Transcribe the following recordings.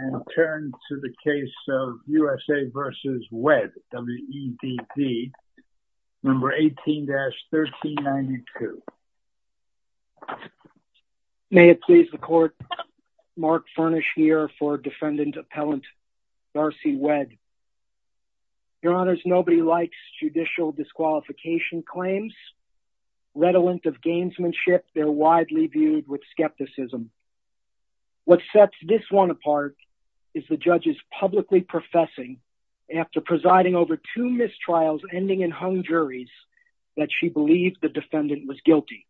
18-1392. May it please the court, Mark Furnish here for defendant appellant Darcy Wedd. Your honors, nobody likes judicial disqualification claims. Redolent of gamesmanship, they're widely viewed with skepticism. What sets this one apart is the judge's publicly professing, after presiding over two mistrials ending in hung juries, that she believed the defendant was guilty.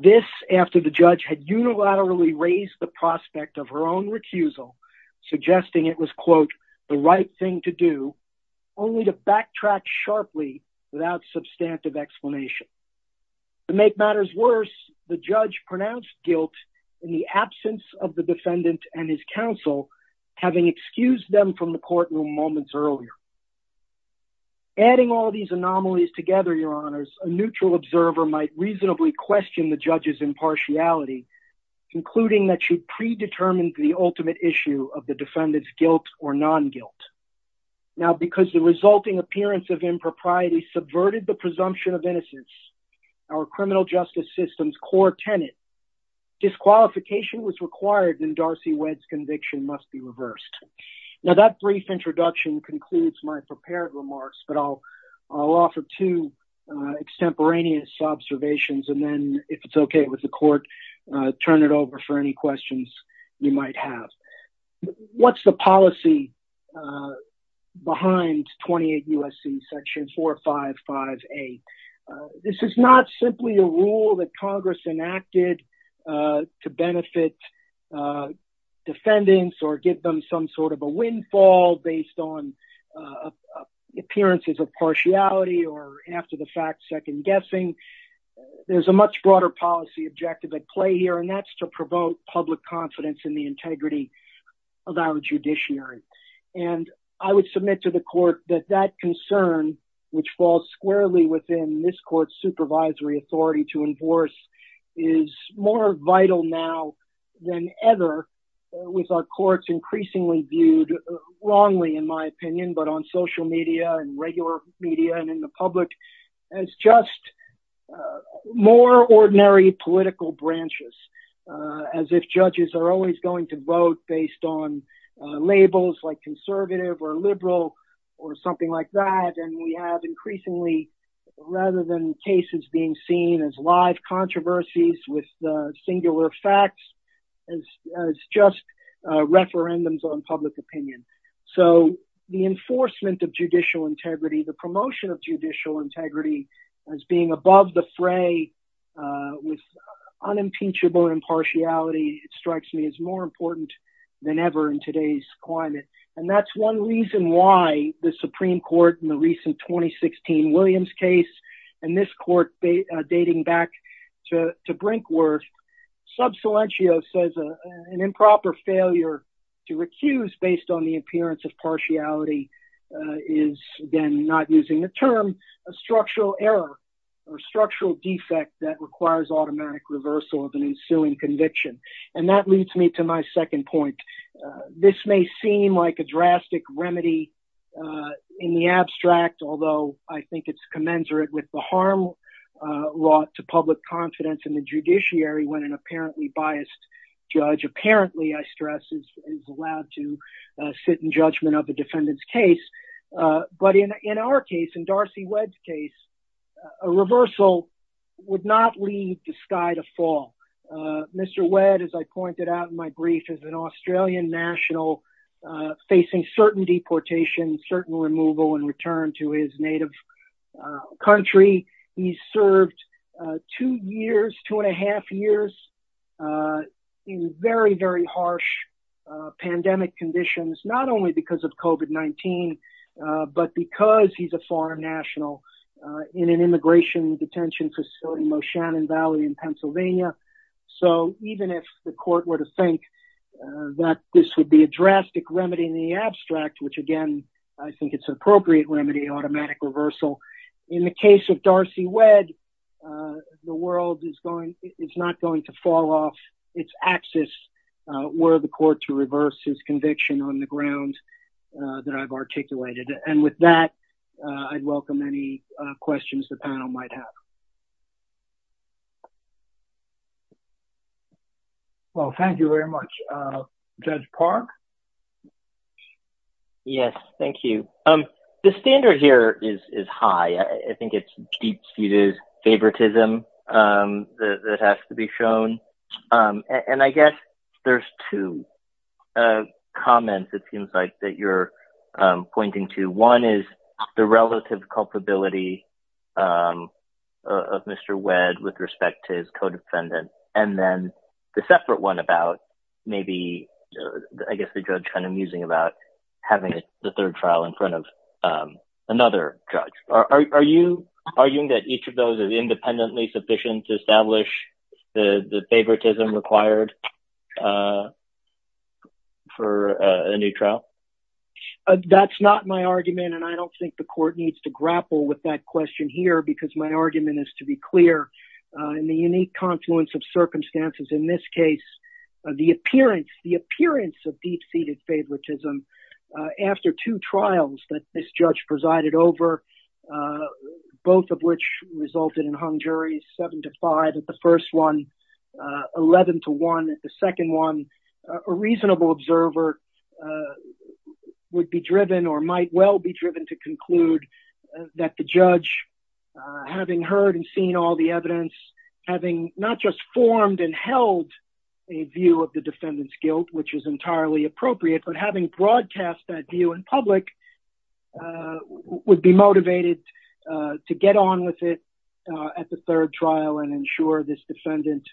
This, after the judge had unilaterally raised the prospect of her own recusal, suggesting it was, quote, the right thing to do, only to backtrack sharply without substantive explanation. To make matters worse, the judge pronounced guilt in the absence of the defendant and his counsel, having excused them from the courtroom moments earlier. Adding all these anomalies together, your honors, a neutral observer might reasonably question the judge's impartiality, concluding that she predetermined the ultimate issue of the defendant's guilt or non-guilt. Now, because the resulting appearance of impropriety subverted the presumption of innocence, our criminal justice system's core tenet, disqualification was required, and Darcy Wedd's conviction must be reversed. Now, that brief introduction concludes my prepared remarks, but I'll offer two extemporaneous observations, and then, if it's okay with the court, turn it over for any questions you might have. What's the policy behind 28 U.S.C. section 455A? This is not simply a rule that Congress enacted to benefit defendants or give them some sort of a windfall based on appearances of partiality or, after the fact, second-guessing. There's a much broader policy objective at play here, and that's to provoke public confidence in the integrity of our judiciary. And I would submit to the court that that concern, which falls squarely within this court's supervisory authority to enforce, is more vital now than ever, with our courts increasingly viewed, wrongly in my opinion, but on social media and regular media and in the public as just more ordinary political branches, as if judges are always going to vote based on labels like conservative or liberal or something like that, and we have increasingly, rather than cases being seen as live controversies with singular facts, as just referendums on public opinion. So the enforcement of judicial integrity, the promotion of judicial integrity as being above the fray with unimpeachable impartiality, it strikes me as more important than ever in today's climate. And that's one reason why the Supreme Court, as Rob Salencio says, an improper failure to recuse based on the appearance of partiality is, again, not using the term, a structural error or structural defect that requires automatic reversal of an ensuing conviction. And that leads me to my second point. This may seem like a drastic remedy in the abstract, although I think it's commensurate with the harm wrought to public confidence in the judiciary when an apparently biased judge, apparently, I stress, is allowed to sit in judgment of a defendant's case. But in our case, in Darcy Webb's case, a reversal would not lead the sky to fall. Mr. Webb, as I pointed out in my brief, is an Australian national facing certain years, two and a half years, in very, very harsh pandemic conditions, not only because of COVID-19, but because he's a foreign national in an immigration detention facility in Moshannon Valley in Pennsylvania. So even if the court were to think that this would be a drastic remedy in the abstract, which again, I think it's an appropriate remedy, automatic reversal, in the case of Darcy Webb, the world is not going to fall off its axis were the court to reverse his conviction on the ground that I've articulated. And with that, I'd welcome any questions the panel might have. Well, thank you very much. Judge Park? Yes, thank you. The standard here is high. I think it's deep-seated favoritism that has to be shown. And I guess there's two comments, it seems like, that you're pointing to. One is the relative culpability of Mr. Webb with respect to his co-defendant. And then the separate one about maybe, I guess the judge kind of musing about having the third trial in front of another judge. Are you arguing that each of those is independently sufficient to establish the favoritism required for a new trial? That's not my argument, and I don't think the court needs to grapple with that question here, because my argument is to be clear. In the unique confluence of circumstances in this case, the appearance of deep-seated favoritism after two trials that this judge presided over, both of which resulted in hung juries 7-5 at the first one, 11-1 at the second one, a reasonable observer would be driven or might well be driven to conclude that the judge, having heard and seen all the evidence, having not just formed and held a view of the defendant's guilt, which is entirely appropriate, but having broadcast that view in public, would be motivated to get on with it at the third trial and ensure this defendant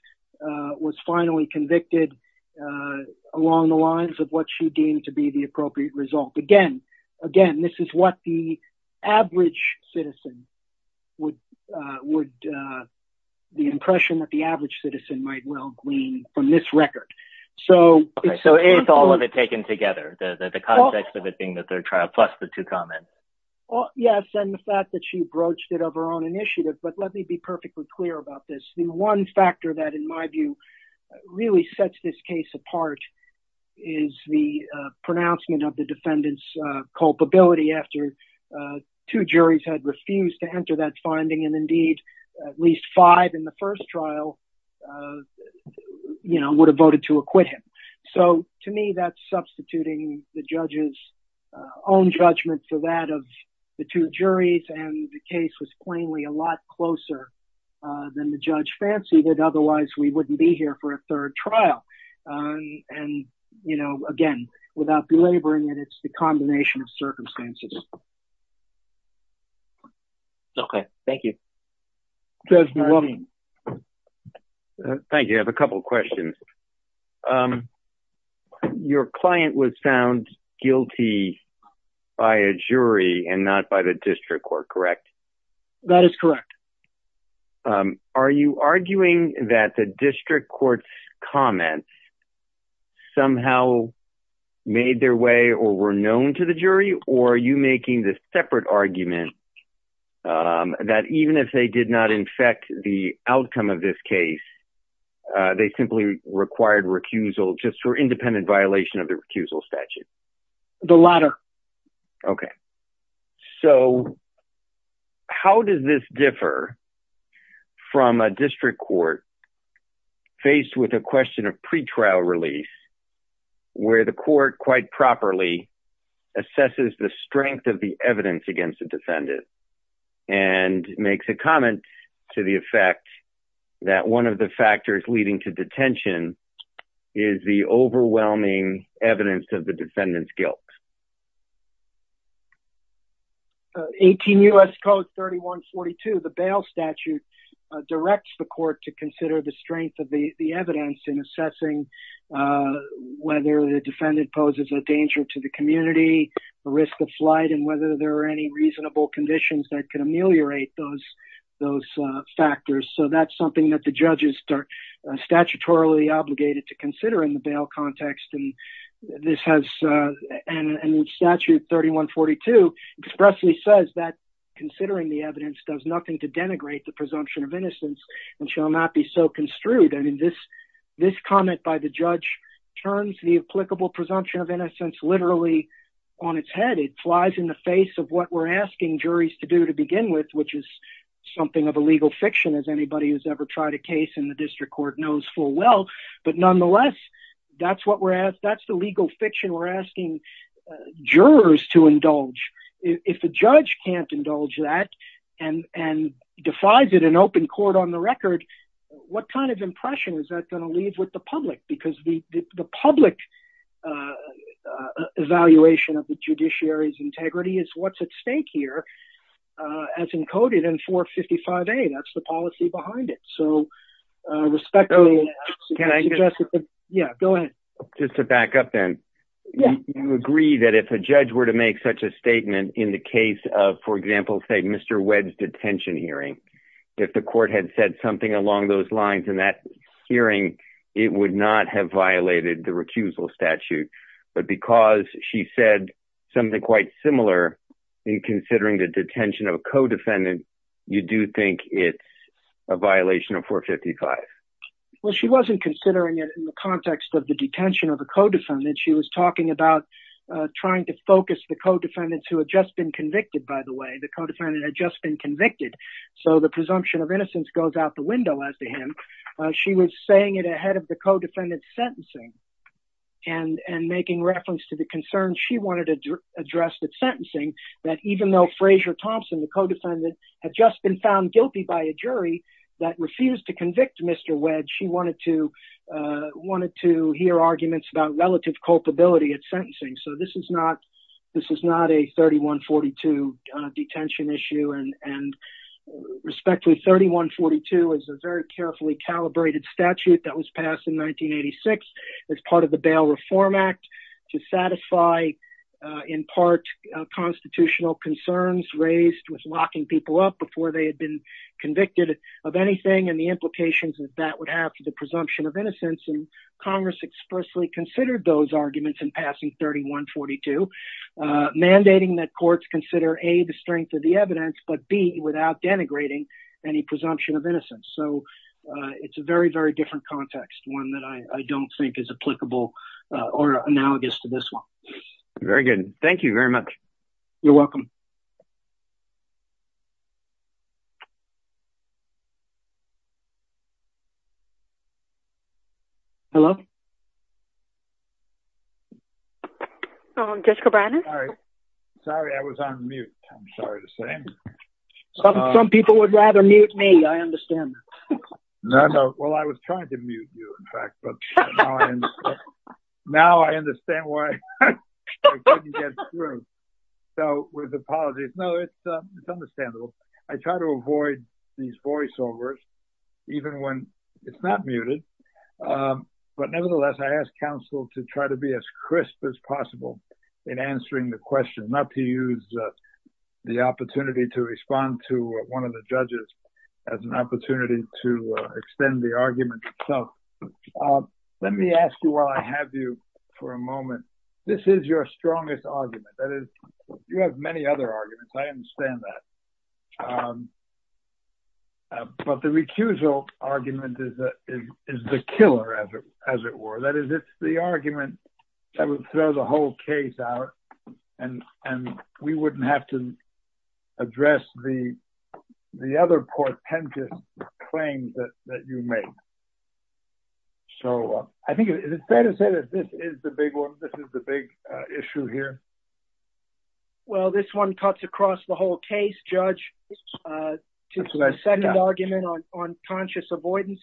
was finally convicted along the lines of what she deemed to be the appropriate result. Again, this is what the average citizen would... So is all of it taken together, the context of it being the third trial plus the two comments? Yes, and the fact that she broached it of her own initiative, but let me be perfectly clear about this. The one factor that, in my view, really sets this case apart is the pronouncement of the defendant's culpability after two juries had refused to enter that finding, and indeed at least five in the first trial would have voted to acquit him. So to me, that's substituting the judge's own judgment for that of the two juries, and the case was plainly a lot closer than the judge fancied it, otherwise we wouldn't be here for a third trial. And again, without belaboring it, it's the combination of circumstances. Okay, thank you. Judge Maloney. Thank you. I have a couple of questions. Your client was found guilty by a jury and not by the district court, correct? That is correct. Are you arguing that the district court's comments somehow made their way or were known to the jury, or are you making this separate argument that even if they did not infect the outcome of this case, they simply required recusal just for independent violation of the recusal statute? The latter. Okay. So how does this differ from a district court faced with a question of pre-trial release where the court quite properly assesses the strength of the evidence against the defendant and makes a comment to the effect that one of the factors leading to detention is the overwhelming evidence of the defendant's guilt? 18 U.S. Code 3142, the bail statute, directs the court to consider the strength of the evidence in assessing whether the defendant poses a danger to the community, a risk of flight, and whether there are any reasonable conditions that could ameliorate those factors. So that's something that the judges are statutorily obligated to consider in the bail context. And this has, and statute 3142 expressly says that considering the evidence does nothing to denigrate the presumption of innocence and shall not be so construed. I mean, this comment by the judge turns the applicable presumption of innocence literally on its head. It flies in the face of what we're asking juries to do to begin with, which is something of a legal fiction, as anybody who's ever tried a case in the district court knows full well. But nonetheless, that's the legal fiction we're asking jurors to indulge. If a judge can't indulge that and defies it in open court on the record, what kind of impression is that going to leave with the public? Because the public evaluation of the judiciary's integrity is what's at stake here, as encoded in 455A, that's the policy behind it. So respectfully, I suggest that the... Yeah, go ahead. Just to back up then, you agree that if a judge were to make such a statement in the case of, for example, say, Mr. Webb's detention hearing, if the court had said something along those lines in that hearing, it would not have violated the recusal statute. But because she said something quite similar in considering the detention of a co-defendant, you do think it's a violation of 455? Well, she wasn't considering it in the context of the detention of a co-defendant. She was talking about trying to focus the co-defendants who had just been convicted, by the way. The co-defendant had just been convicted. So the presumption of innocence goes out the window as to him. She was saying it ahead of the co-defendant's sentencing, and making reference to the concerns she wanted to address at sentencing, that even though Frasier Thompson, the co-defendant, had just been found guilty by a jury that refused to convict Mr. Webb, she wanted to hear arguments about relative culpability at sentencing. So this is not a 3142 detention issue. And respectfully, 3142 is a very carefully calibrated statute that was passed in 1986 as part of the Bail Reform Act to satisfy, in part, constitutional concerns raised with locking people up before they had been convicted of anything and the implications that that would have for the presumption of innocence. And Congress expressly considered those arguments in passing 3142, mandating that courts consider, A, the strength of the evidence, but B, without denigrating any presumption of innocence. So it's a very, very different context, one that I don't think is applicable or analogous to this one. Very good. Thank you very much. You're welcome. Hello? Jessica Brennan? Sorry, I was on mute. I'm sorry to say. Some people would rather mute me. I understand. No, no. Well, I was trying to mute you, in fact. But now I understand why I couldn't get through. So with apologies. No, it's understandable. I try to avoid these voiceovers, even when it's not muted. But nevertheless, I ask counsel to try to be as crisp as possible in answering the question, not to use the opportunity to respond to one of the judges as an opportunity to extend the argument itself. Let me ask you, while I have you for a moment, this is your strongest argument. You have many other arguments. I understand that. But the recusal argument is the killer, as it were. That is, it's the argument that would throw the whole case out and we wouldn't have to address the other portentous claims that you make. So I think it's fair to say that this is the big one. This is the big issue here. Well, this one cuts across the whole case, Judge. The second argument on conscious avoidance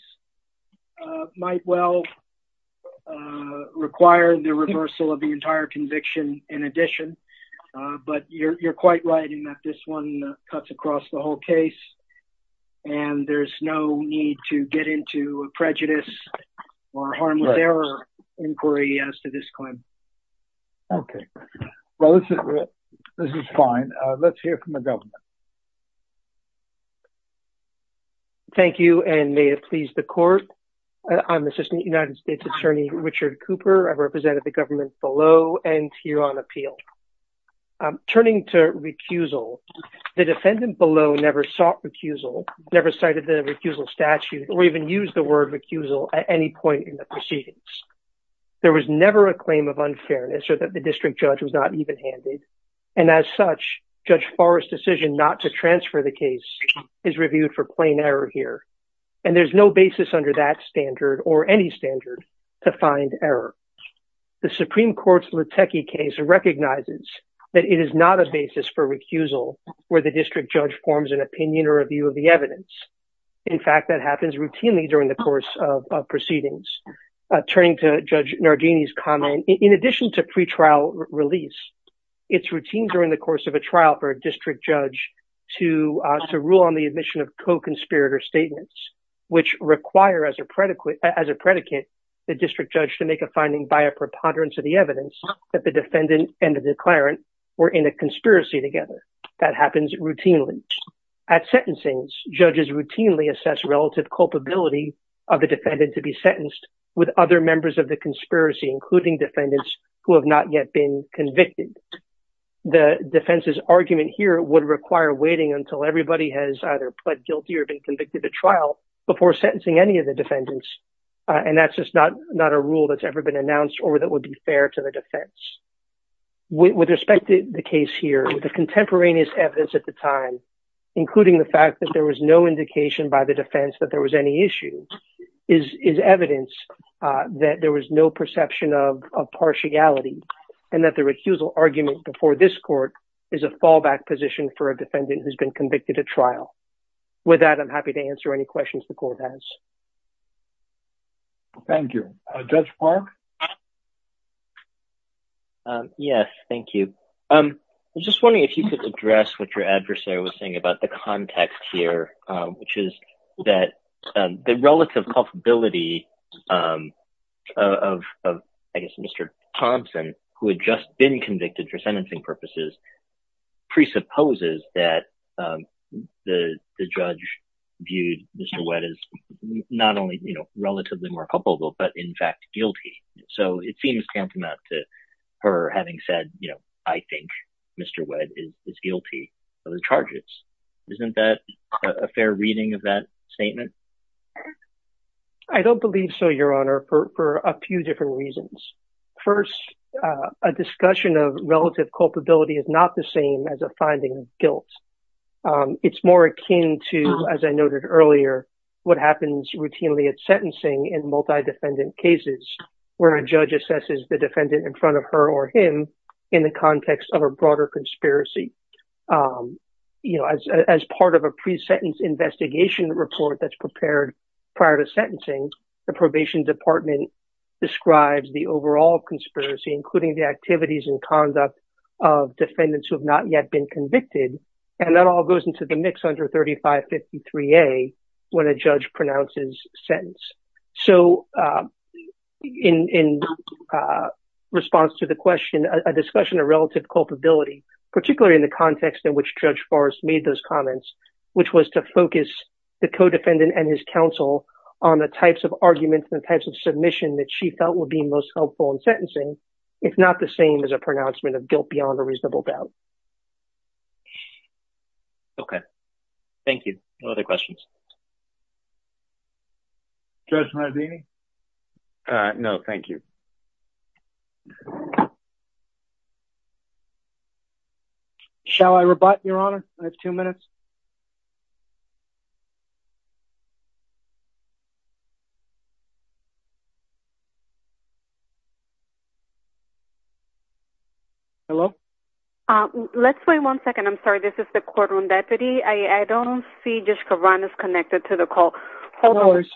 might well require the reversal of the entire conviction in addition. But you're quite right in that this one cuts across the whole case and there's no need to get into a prejudice or harm with error inquiry as to this claim. Okay. Well, this is fine. Let's hear from the government. Thank you, and may it please the court. I'm Assistant United States Attorney Richard Cooper. I've represented the government below and here on appeal. Turning to recusal, the defendant below never sought recusal, never cited the recusal statute, or even used the word recusal at any point in the proceedings. There was never a claim of unfairness or that the district judge was not evenhanded. And as such, Judge Forrest's decision not to transfer the case is reviewed for plain error here. And there's no basis under that standard or any standard to find error. The Supreme Court's Litecky case recognizes that it is not a basis for recusal where the district judge forms an opinion or a view of the evidence. In fact, that happens routinely during the course of proceedings. Turning to Judge Nardini's comment, in addition to pretrial release, it's routine during the course of a trial for a district judge to rule on the admission of co-conspirator statements, which require, as a predicate, the district judge to make a finding by a preponderance of the evidence that the defendant and the declarant were in a conspiracy together. That happens routinely. At sentencings, judges routinely assess relative culpability of the defendant to be sentenced with other members of the conspiracy, including defendants who have not yet been convicted. The defense's argument here would require waiting until everybody has either pled guilty or been convicted at trial before sentencing any of the defendants. And that's just not a rule that's ever been announced or that would be fair to the defense. With respect to the case here, with the contemporaneous evidence at the time, including the fact that there was no indication by the defense that there was any issue, is evidence that there was no perception of partiality and that the recusal argument before this court is a fallback position for a defendant who's been convicted at trial. With that, I'm happy to answer any questions the court has. Thank you. Judge Park? Yes, thank you. I'm just wondering if you could address what your adversary was saying about the context here, which is that the relative culpability of, I guess, Mr. Thompson, who had just been convicted for sentencing purposes, presupposes that the judge viewed Mr. Webb as not only relatively more culpable, but in fact guilty. So it seems tantamount to her having said, I think Mr. Webb is guilty of the charges. Isn't that a fair reading of that statement? I don't believe so, Your Honor, for a few different reasons. First, a discussion of relative culpability is not the same as a finding of guilt. It's more akin to, as I noted earlier, what happens routinely at sentencing in multi-defendant cases where a judge assesses the defendant in front of her or him in the context of a broader conspiracy. As part of a pre-sentence investigation report prepared prior to sentencing, the probation department describes the overall conspiracy, including the activities and conduct of defendants who have not yet been convicted. And that all goes into the mix under 3553A when a judge pronounces sentence. So in response to the question, a discussion of relative culpability, particularly in the context in which Judge Forrest made those comments, which was to focus the co-defendant and his counsel on the types of arguments and types of submission that she felt would be most helpful in sentencing, if not the same as a pronouncement of guilt beyond a reasonable doubt. Okay. Thank you. No other questions? Judge Marzini? No, thank you. Shall I rebut, Your Honor? I have two minutes. Hello? Let's wait one second. I'm sorry, this is the courtroom deputy. I don't see Judge Kavranas connected to the call. Hold on. Okay. Okay.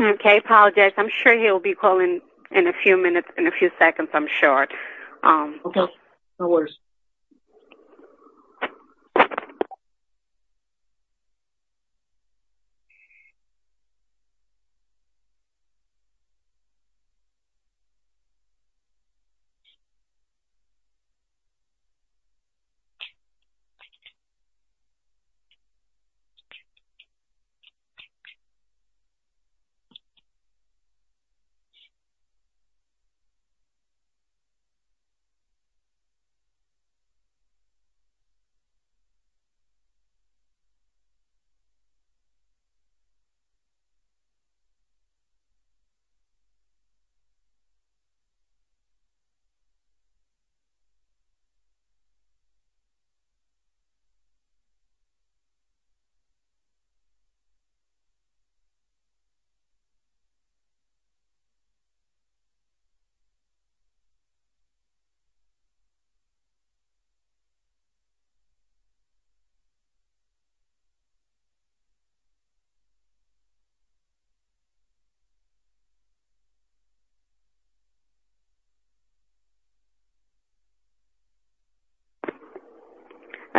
Okay, I apologize. I'm sure he'll be calling in a few minutes, in a few seconds, I'm sure. Okay. No worries. Okay. Thank you.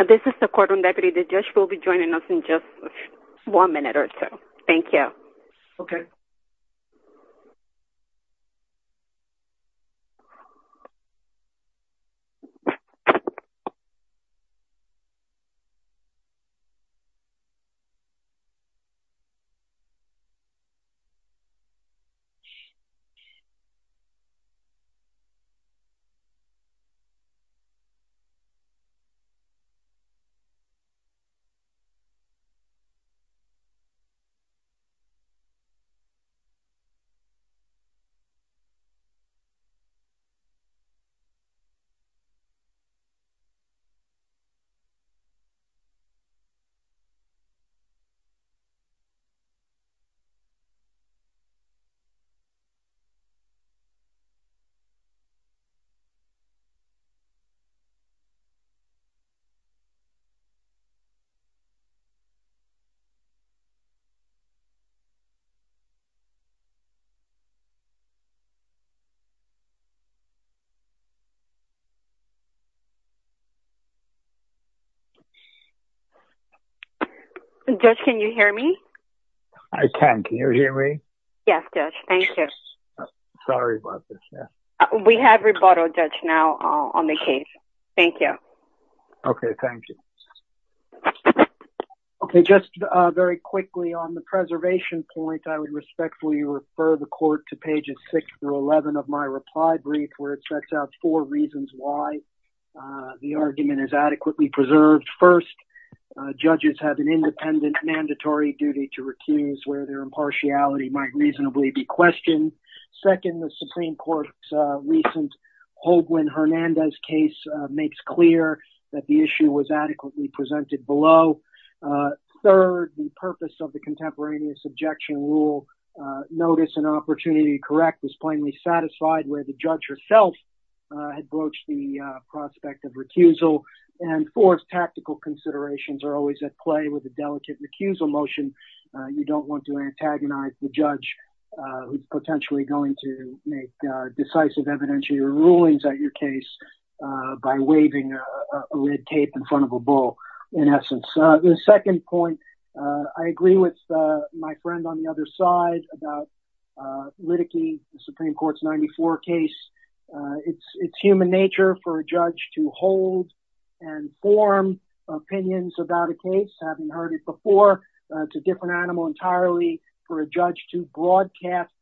This is the courtroom deputy. The judge will be joining us in just one minute or so. Thank you. Okay. Thank you. Judge, can you hear me? I can. Can you hear me? Yes, Judge. Thank you. Sorry about this. We have rebuttal, Judge, now. I'm sorry. I'm sorry. I'm sorry. I'm sorry. Okay. We have rebuttal now on the case. Thank you. Okay. Thank you. Just very quickly, on the Preservation point, I would respectfully refer the court to pages 6 through 11 of my reply brief, where it sets out four reasons why the argument is adequately preserved. First, judges have an independent, mandatory duty to recuse where their impartiality might reasonably be questioned. Second, the Supreme Court's Holguin-Hernandez case makes clear that the issue was adequately presented below. Third, the purpose of the contemporaneous objection rule, notice and opportunity to correct, is plainly satisfied where the judge herself had broached the prospect of recusal. And fourth, tactical considerations are always at play with a delicate recusal motion. You don't want to antagonize the judge who's potentially going to make decisive evidentiary rulings at your case by waving a red tape in front of a bull, in essence. The second point, I agree with my friend on the other side about Liddickey, the Supreme Court's 94 case. It's human nature for a judge to hold and form opinions about a case, having heard it before. It's a different animal entirely for a judge to broadcast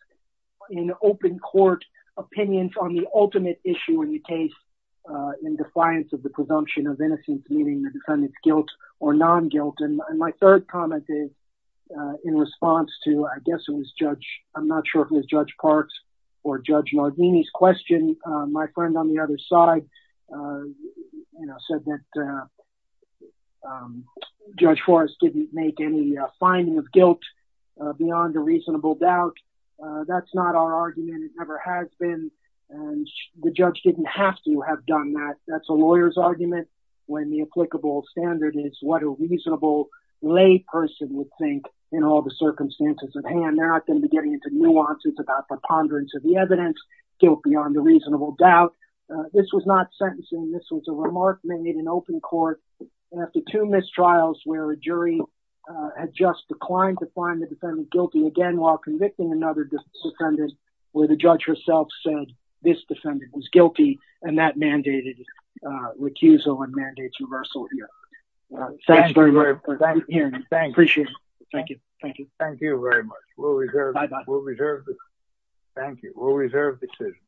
in open court opinions on the ultimate issue in the case in defiance of the presumption of innocence, meaning the defendant's guilt or non-guilt. And my third comment is, in response to, I guess it was Judge, I'm not sure if it was Judge Parks or Judge Nardini's question, my friend on the other side said that Judge Forrest didn't make any finding of guilt beyond a reasonable doubt. That's not our argument. And the judge didn't have to have done that. That's a lawyer's argument when the applicable standard is what a reasonable lay person would think in all the circumstances at hand. They're not going to be getting into nuances about preponderance of the evidence, guilt beyond a reasonable doubt. This was not sentencing. This was a remark made in open court after two mistrials where a jury had just declined to find the defendant guilty again while convicting another defendant who said this defendant was guilty and that mandated recusal and mandates reversal here. Thanks very much for hearing me. Appreciate it. Thank you. Thank you very much. Bye bye. Thank you. We'll reserve the decision.